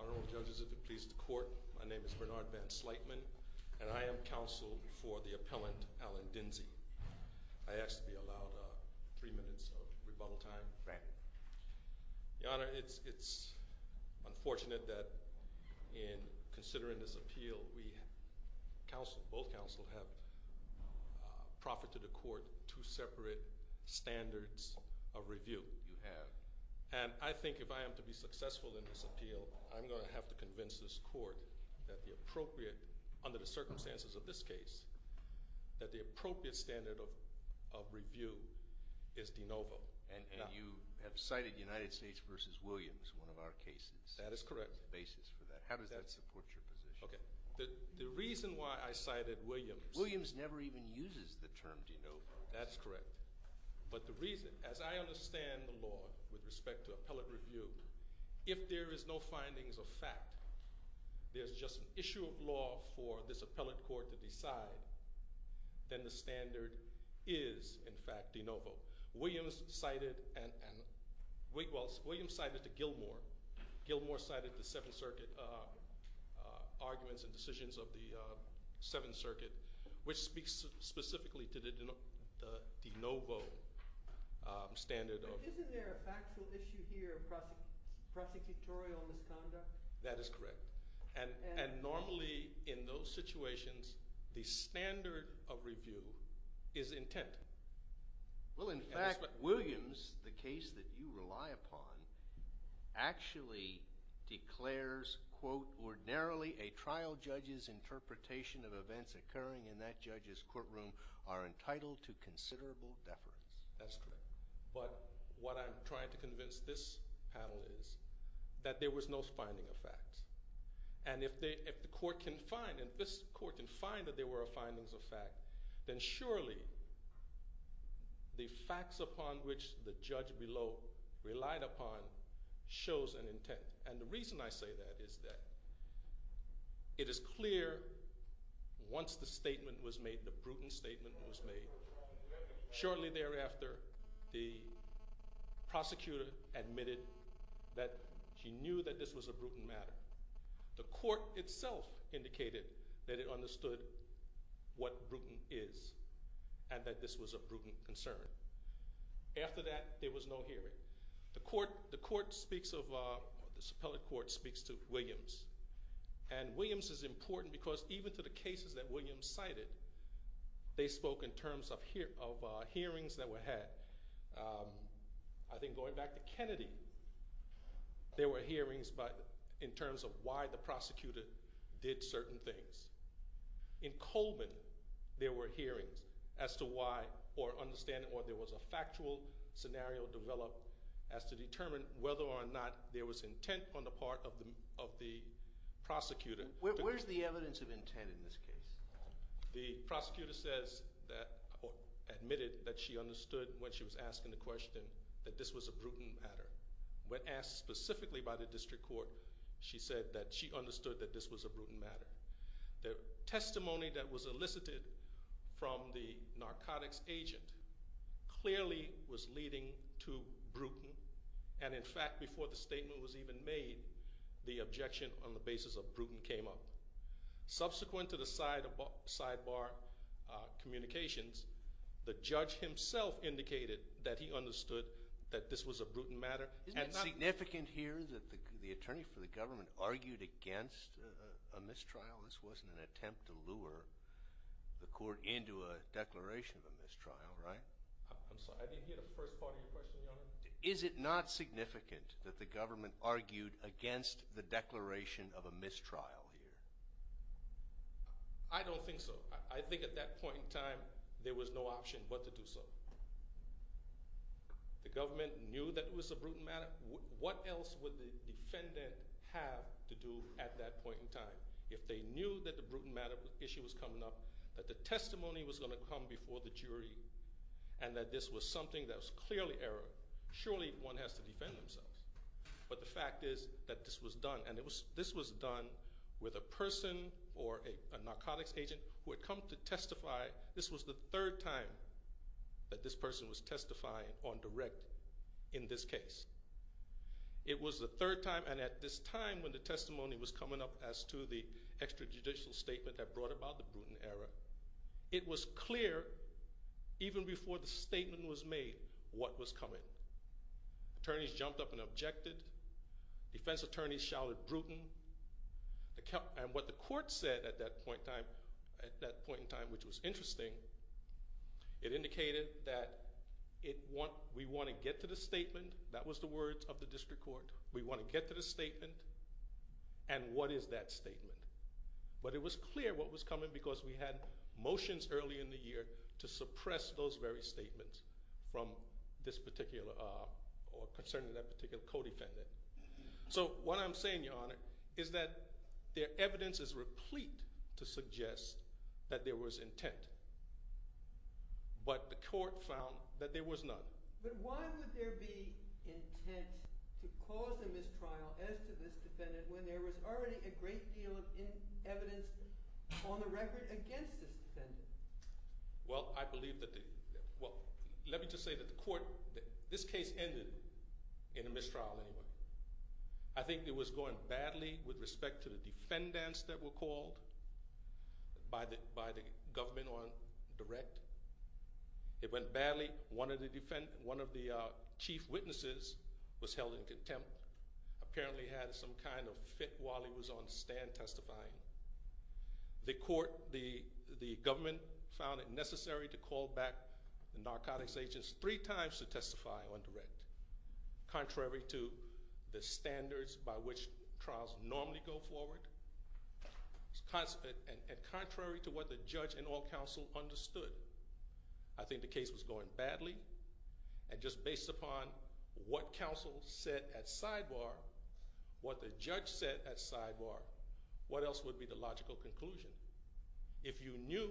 Honorable judges, if it please the court, my name is Bernard Van Sleitman and I am counsel for the appellant, Alan Dinzey. I ask to be allowed three minutes of rebuttal time. Right. Your Honor, it's unfortunate that in considering this appeal, both counsel have proffered to the court two separate standards of review. You have. And I think if I am to be successful in this appeal, I'm going to have to convince this court that the appropriate, under the circumstances of this case, that the appropriate standard of review is de novo. And you have cited United States v. Williams, one of our cases. That is correct. As a basis for that. How does that support your position? Okay. The reason why I cited Williams. Williams never even uses the term de novo. That's correct. But the reason, as I understand the law with respect to appellate review, if there is no findings of fact, there's just an issue of law for this appellate court to decide, then the standard is, in fact, de novo. Williams cited, and, well, Williams cited the Gilmore, Gilmore cited the Seventh Circuit arguments and decisions of the Seventh Circuit, which speaks specifically to the de novo standard of. But isn't there a factual issue here of prosecutorial misconduct? That is correct. And normally, in those situations, the standard of review is intent. Well, in fact, Williams, the case that you rely upon, actually declares, quote, ordinarily, a trial judge's interpretation of events occurring in that judge's courtroom are entitled to considerable deference. That's correct. But what I'm trying to convince this panel is that there was no finding of fact. And if the court can find, if this court can find that there were findings of fact, then surely the facts upon which the judge below relied upon shows an intent. And the reason I say that is that it is clear once the statement was made, the Bruton statement was made, shortly thereafter, the prosecutor admitted that she knew that this was a Bruton matter. The court itself indicated that it understood what Bruton is and that this was a Bruton concern. After that, there was no hearing. The court speaks of, the suppellant court speaks to Williams. And Williams is important because even to the cases that Williams cited, they spoke in terms of hearings that were had. I think going back to Kennedy, there were hearings in terms of why the prosecutor did certain things. In Coleman, there were hearings as to why or understanding why there was a factual scenario developed as to determine whether or not there was intent on the part of the prosecutor. Where's the evidence of intent in this case? The prosecutor says that, or admitted that she understood when she was asking the question that this was a Bruton matter. When asked specifically by the district court, she said that she understood that this was a Bruton matter. The testimony that was elicited from the narcotics agent clearly was leading to Bruton. And in fact, before the statement was even made, the objection on the basis of Bruton came up. Subsequent to the sidebar communications, the judge himself indicated that he understood that this was a Bruton matter. Isn't it significant here that the attorney for the government argued against a mistrial? This wasn't an attempt to lure the court into a declaration of a mistrial, right? I'm sorry, I didn't hear the first part of your question, Your Honor. Is it not significant that the government argued against the declaration of a mistrial here? I don't think so. I think at that point in time, there was no option but to do so. The government knew that it was a Bruton matter. What else would the defendant have to do at that point in time? If they knew that the Bruton matter issue was coming up, that the testimony was going to come before the jury, and that this was something that was clearly error, surely one has to defend themselves. But the fact is that this was done, and this was done with a person or a narcotics agent who had come to testify. This was the third time that this person was testifying on direct in this case. It was the third time, and at this time when the testimony was coming up as to the extrajudicial statement that brought about the Bruton error, it was clear even before the statement was made what was coming. Attorneys jumped up and objected. Defense attorneys shouted Bruton. And what the court said at that point in time, which was interesting, it indicated that we want to get to the statement. That was the words of the district court. We want to get to the statement, and what is that statement? But it was clear what was coming because we had motions early in the year to suppress those very statements from this particular, or concerning that particular co-defendant. So what I'm saying, Your Honor, is that the evidence is replete to suggest that there was intent, but the court found that there was none. But why would there be intent to cause a mistrial as to this defendant when there was already a great deal of evidence on the record against this defendant? Well, I believe that the, well, let me just say that the court, this case ended in a mistrial anyway. I think it was going badly with respect to the defendants that were called by the government on direct. It went badly. One of the chief witnesses was held in contempt, apparently had some kind of fit while he was on stand testifying. The court, the government found it necessary to call back the narcotics agents three times to testify on direct, contrary to the standards by which trials normally go forward, and contrary to what the judge and all counsel understood. I think the case was going badly, and just based upon what counsel said at sidebar, what the judge said at sidebar, what else would be the logical conclusion? If you knew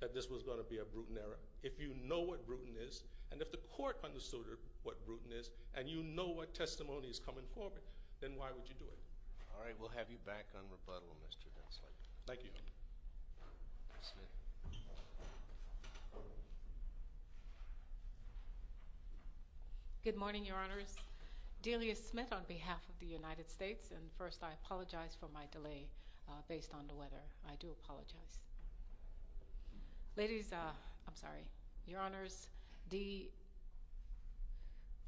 that this was going to be a brutal error, if you know what brutal is, and if the court understood what brutal is, and you know what testimony is coming forward, then why would you do it? All right. We'll have you back on rebuttal, Mr. Hensley. Thank you. Smith. Good morning, Your Honors. Delia Smith on behalf of the United States, and first I apologize for my delay based on the weather. I do apologize. Ladies, I'm sorry. Your Honors, the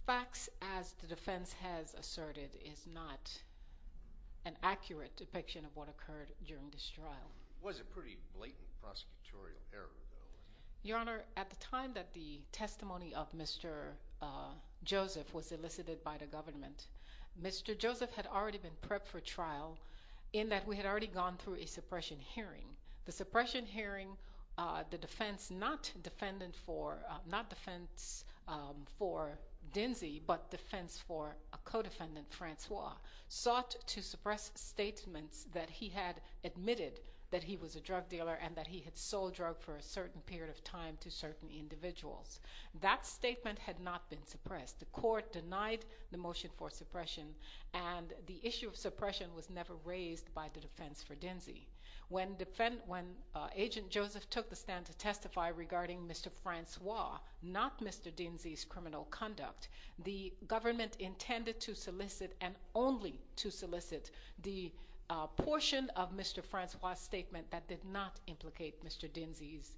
facts as the defense has asserted is not an accurate depiction of what occurred during this trial. It was a pretty blatant prosecutorial error, though. Your Honor, at the time that the testimony of Mr. Joseph was elicited by the government, Mr. Joseph had already been prepped for trial in that we had already gone through a suppression hearing. The suppression hearing, the defense not defendant for, not defense for Dinsey, but defense for that he was a drug dealer and that he had sold drugs for a certain period of time to certain individuals. That statement had not been suppressed. The court denied the motion for suppression, and the issue of suppression was never raised by the defense for Dinsey. When agent Joseph took the stand to testify regarding Mr. Francois, not Mr. Dinsey's criminal conduct, the government intended to solicit and only to solicit the portion of Mr. Francois's statement that did not implicate Mr. Dinsey's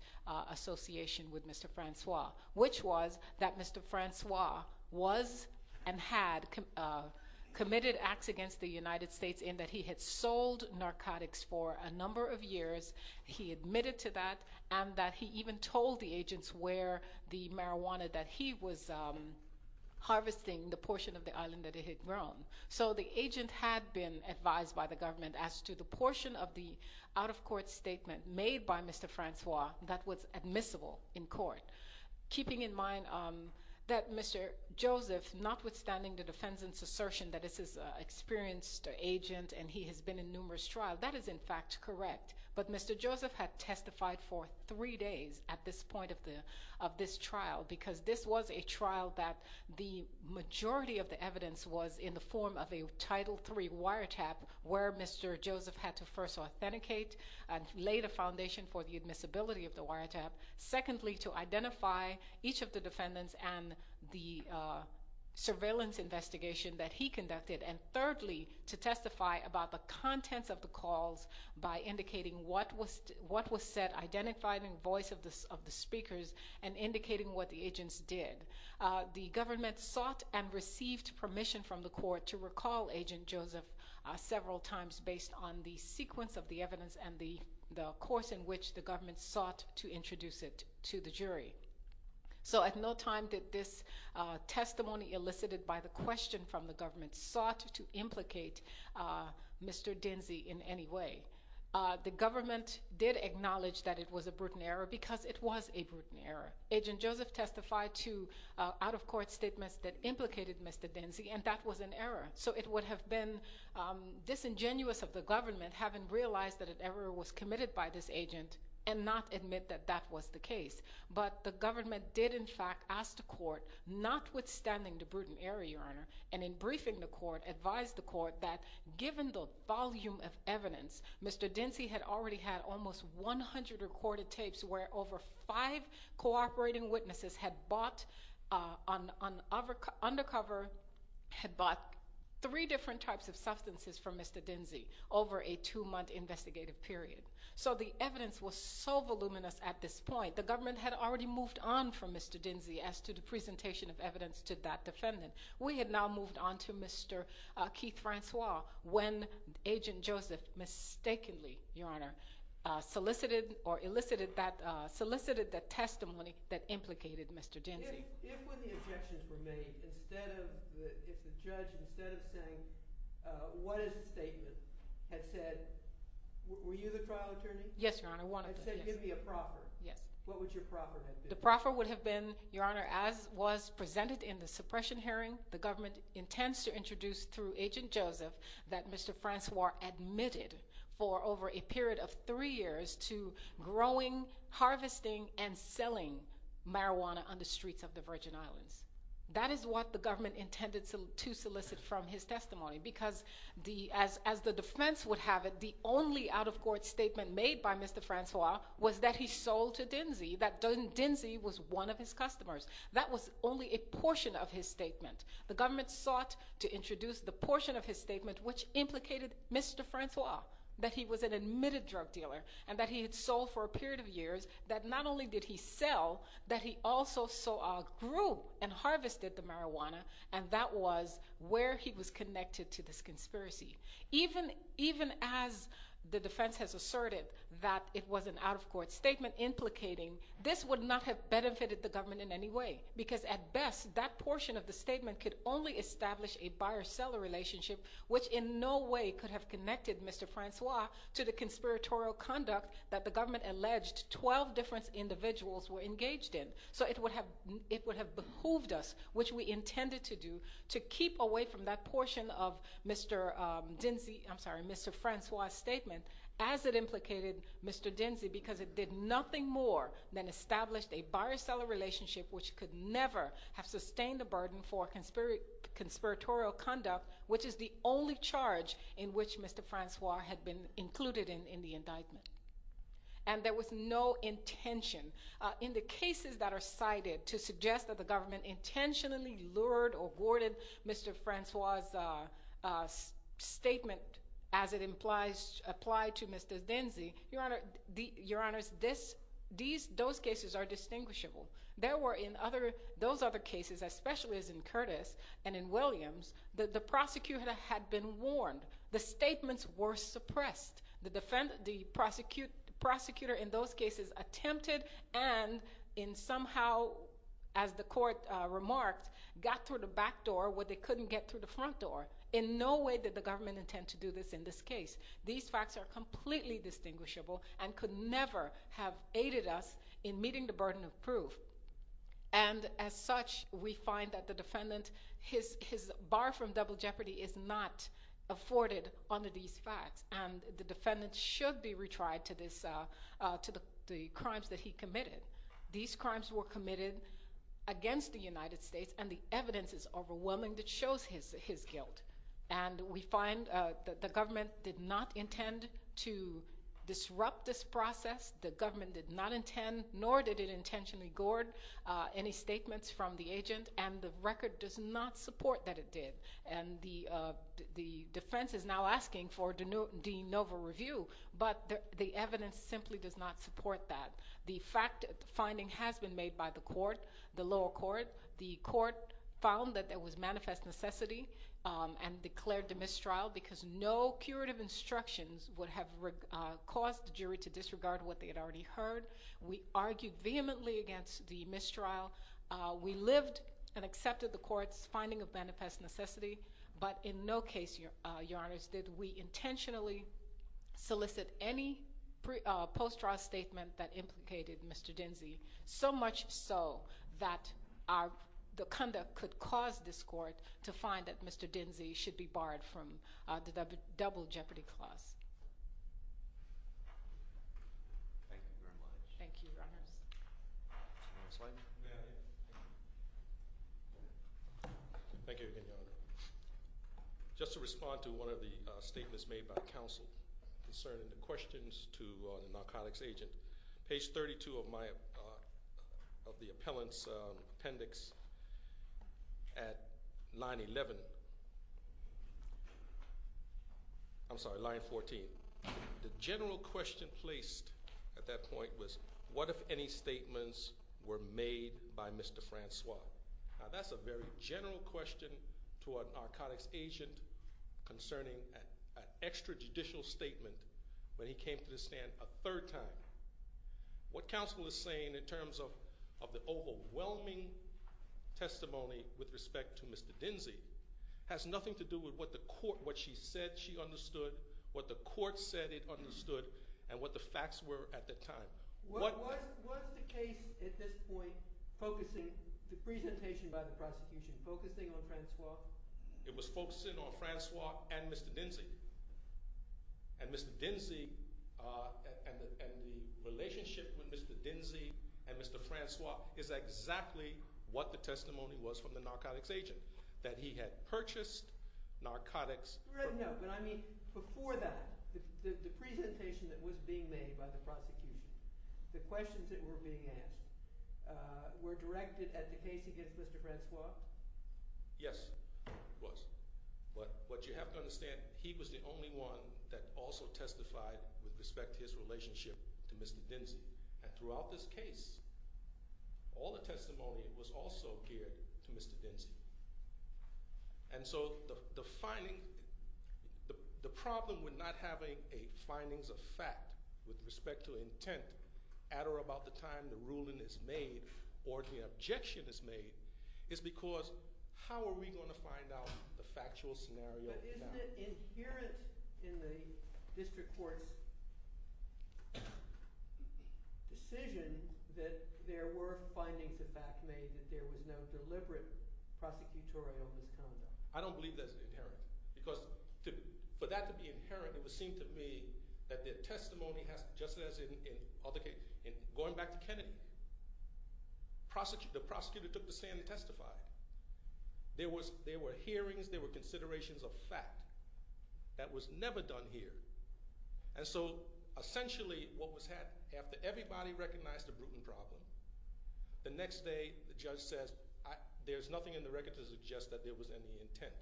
association with Mr. Francois, which was that Mr. Francois was and had committed acts against the United States in that he had sold narcotics for a number of years, he admitted to that, and that he even told the agents where the marijuana that he was harvesting, the portion of the island that he had grown. So the agent had been advised by the government as to the portion of the out-of-court statement made by Mr. Francois that was admissible in court. Keeping in mind that Mr. Joseph, notwithstanding the defense's assertion that this is an experienced agent and he has been in numerous trials, that is in fact correct. But Mr. Joseph had testified for three days at this point of this trial because this was a trial that the majority of the evidence was in the form of a Title III wiretap where Mr. Joseph had to first authenticate and lay the foundation for the admissibility of the wiretap. Secondly, to identify each of the defendants and the surveillance investigation that he conducted. And thirdly, to testify about the contents of the calls by indicating what was said, identifying the voice of the speakers, and indicating what the agents did. The government sought and received permission from the court to recall Agent Joseph several times based on the sequence of the evidence and the course in which the government sought to introduce it to the jury. So at no time did this testimony elicited by the question from the government sought to implicate Mr. Dinsey in any way. The government did acknowledge that it was a brutal error because it was a brutal error. Agent Joseph testified to out-of-court statements that implicated Mr. Dinsey and that was an error. So it would have been disingenuous of the government, having realized that an error was committed by this agent, and not admit that that was the case. But the government did in fact ask the court, notwithstanding the brutal error, Your Honor, and in briefing the court, advised the court that given the volume of evidence, Mr. Dinsey had already had almost 100 recorded tapes where over five cooperating witnesses had bought on undercover, had bought three different types of substances from Mr. Dinsey over a two-month investigative period. So the evidence was so voluminous at this point. The government had already moved on from Mr. Dinsey as to the presentation of evidence to that defendant. We had now moved on to Mr. Keith-Francois when Agent Joseph mistakenly, Your Honor, solicited or elicited that testimony that implicated Mr. Dinsey. If when the objections were made, if the judge, instead of saying, what is the statement, had said, were you the trial attorney? Yes, Your Honor, one of us. And said, give me a proffer. Yes. What would your proffer have been? The proffer would have been, Your Honor, as was presented in the suppression hearing, the government intends to introduce through Agent Joseph that Mr. Francois admitted for over a period of three years to growing, harvesting, and selling marijuana on the streets of the Virgin Islands. That is what the government intended to solicit from his testimony because as the defense would have it, the only out-of-court statement made by Mr. Francois was that he sold to Dinsey, that Dinsey was one of his customers. That was only a portion of his statement. The government sought to introduce the portion of his statement which implicated Mr. Francois, that he was an admitted drug dealer, and that he had sold for a period of years, that not only did he sell, that he also grew and harvested the marijuana, and that was where he was connected to this conspiracy. Even as the defense has asserted that it was an out-of-court statement implicating, this would not have benefited the government in any way because at best, that portion of the statement could only establish a buyer-seller relationship which in no way could have connected Mr. Francois to the conspiratorial conduct that the government alleged 12 different individuals were engaged in. So it would have behooved us, which we intended to do, to keep away from that portion of Mr. Dinsey, I'm sorry, Mr. Francois' statement as it implicated Mr. Dinsey because it did nothing more than establish a buyer-seller relationship which could never have sustained a burden for conspiratorial conduct, which is the only charge in which Mr. Francois had been included in the indictment. And there was no intention in the cases that are cited to suggest that the government intentionally lured or boarded Mr. Francois' statement as it implies, applied to Mr. Dinsey. Your Honor, these, those cases are distinguishable. There were in other, those other cases, especially as in Curtis and in Williams, the prosecutor had been warned. The statements were suppressed. The defendant, the prosecutor in those cases attempted and in somehow, as the court remarked, got through the back door where they couldn't get through the front door. In no way did the government intend to do this in this case. These facts are completely distinguishable and could never have aided us in meeting the burden of proof. And as such, we find that the defendant, his bar from double jeopardy is not afforded under these facts, and the defendant should be retried to this, to the crimes that he committed. These crimes were committed against the United States, and the evidence is overwhelming that shows his guilt. And we find that the government did not intend to disrupt this process. The government did not intend, nor did it intentionally board any statements from the agent, and the record does not support that it did. And the defense is now asking for de novo review, but the evidence simply does not support that. The fact, the finding has been made by the court, the lower court. The court found that there was manifest necessity and declared the mistrial because no curative instructions would have caused the jury to disregard what they had already heard. We argued vehemently against the mistrial. We lived and accepted the court's finding of manifest necessity, but in no case, Your Honors, did we intentionally solicit any post-trial statement that implicated Mr. Dinsey, so much so that the conduct could cause this court to find that Mr. Dinsey should be barred from the double jeopardy clause. Thank you very much. Thank you, Your Honors. Next slide. Thank you again, Your Honor. Just to respond to one of the statements made by counsel concerning the questions to the narcotics agent, page 32 of my, of the appellant's appendix at line 11, I'm sorry, line 14. The general question placed at that point was, what if any statements were made by Mr. Francois? Now that's a very general question to a narcotics agent concerning an extrajudicial statement when he came to the stand a third time. What counsel is saying in terms of the overwhelming testimony with respect to Mr. Dinsey has nothing to do with what the court, what she said she understood, what the court said it understood, and what the facts were at the time. Was the case at this point focusing, the presentation by the prosecution, focusing on Francois? It was focusing on Francois and Mr. Dinsey. And Mr. Dinsey, and the relationship with Mr. Dinsey and Mr. Francois is exactly what the testimony was from the narcotics agent. That he had purchased narcotics. No, but I mean, before that, the presentation that was being made by the prosecution, the questions that were being asked, were directed at the case against Mr. Francois? Yes, it was. But what you have to understand, he was the only one that also testified with respect to his relationship to Mr. Dinsey. And throughout this case, all the testimony was also geared to Mr. Dinsey. And so, the finding, the problem with not having a findings of fact with respect to intent, at or about the time the ruling is made, or the objection is made, is because how are we going to find out the factual scenario? But isn't it inherent in the district court's decision that there were findings of fact made that there was no deliberate prosecutorial misconduct? I don't believe that's inherent. Because for that to be inherent, it would seem to me that the testimony has to, just as in other cases, going back to Kennedy, the prosecutor took the stand and testified. There were hearings, there were considerations of fact that was never done here. And so, essentially what was happening, after everybody recognized the Bruton problem, the next day the judge says, there's nothing in the record to suggest that there was any intent.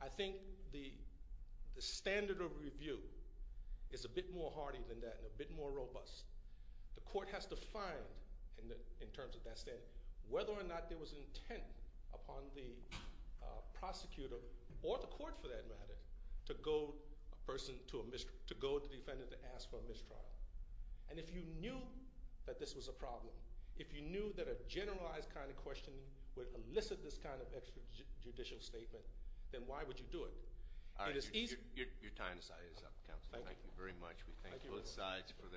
I think the standard of review is a bit more hardy than that, and a bit more robust. The court has to find, in terms of that standard, whether or not there was intent upon the prosecutor, or the court for that matter, to go to the defendant to ask for a mistrial. And if you knew that this was a problem, if you knew that a generalized kind of questioning would elicit this kind of extrajudicial statement, then why would you do it? Your time is up, counsel. Thank you very much. Thank you both sides.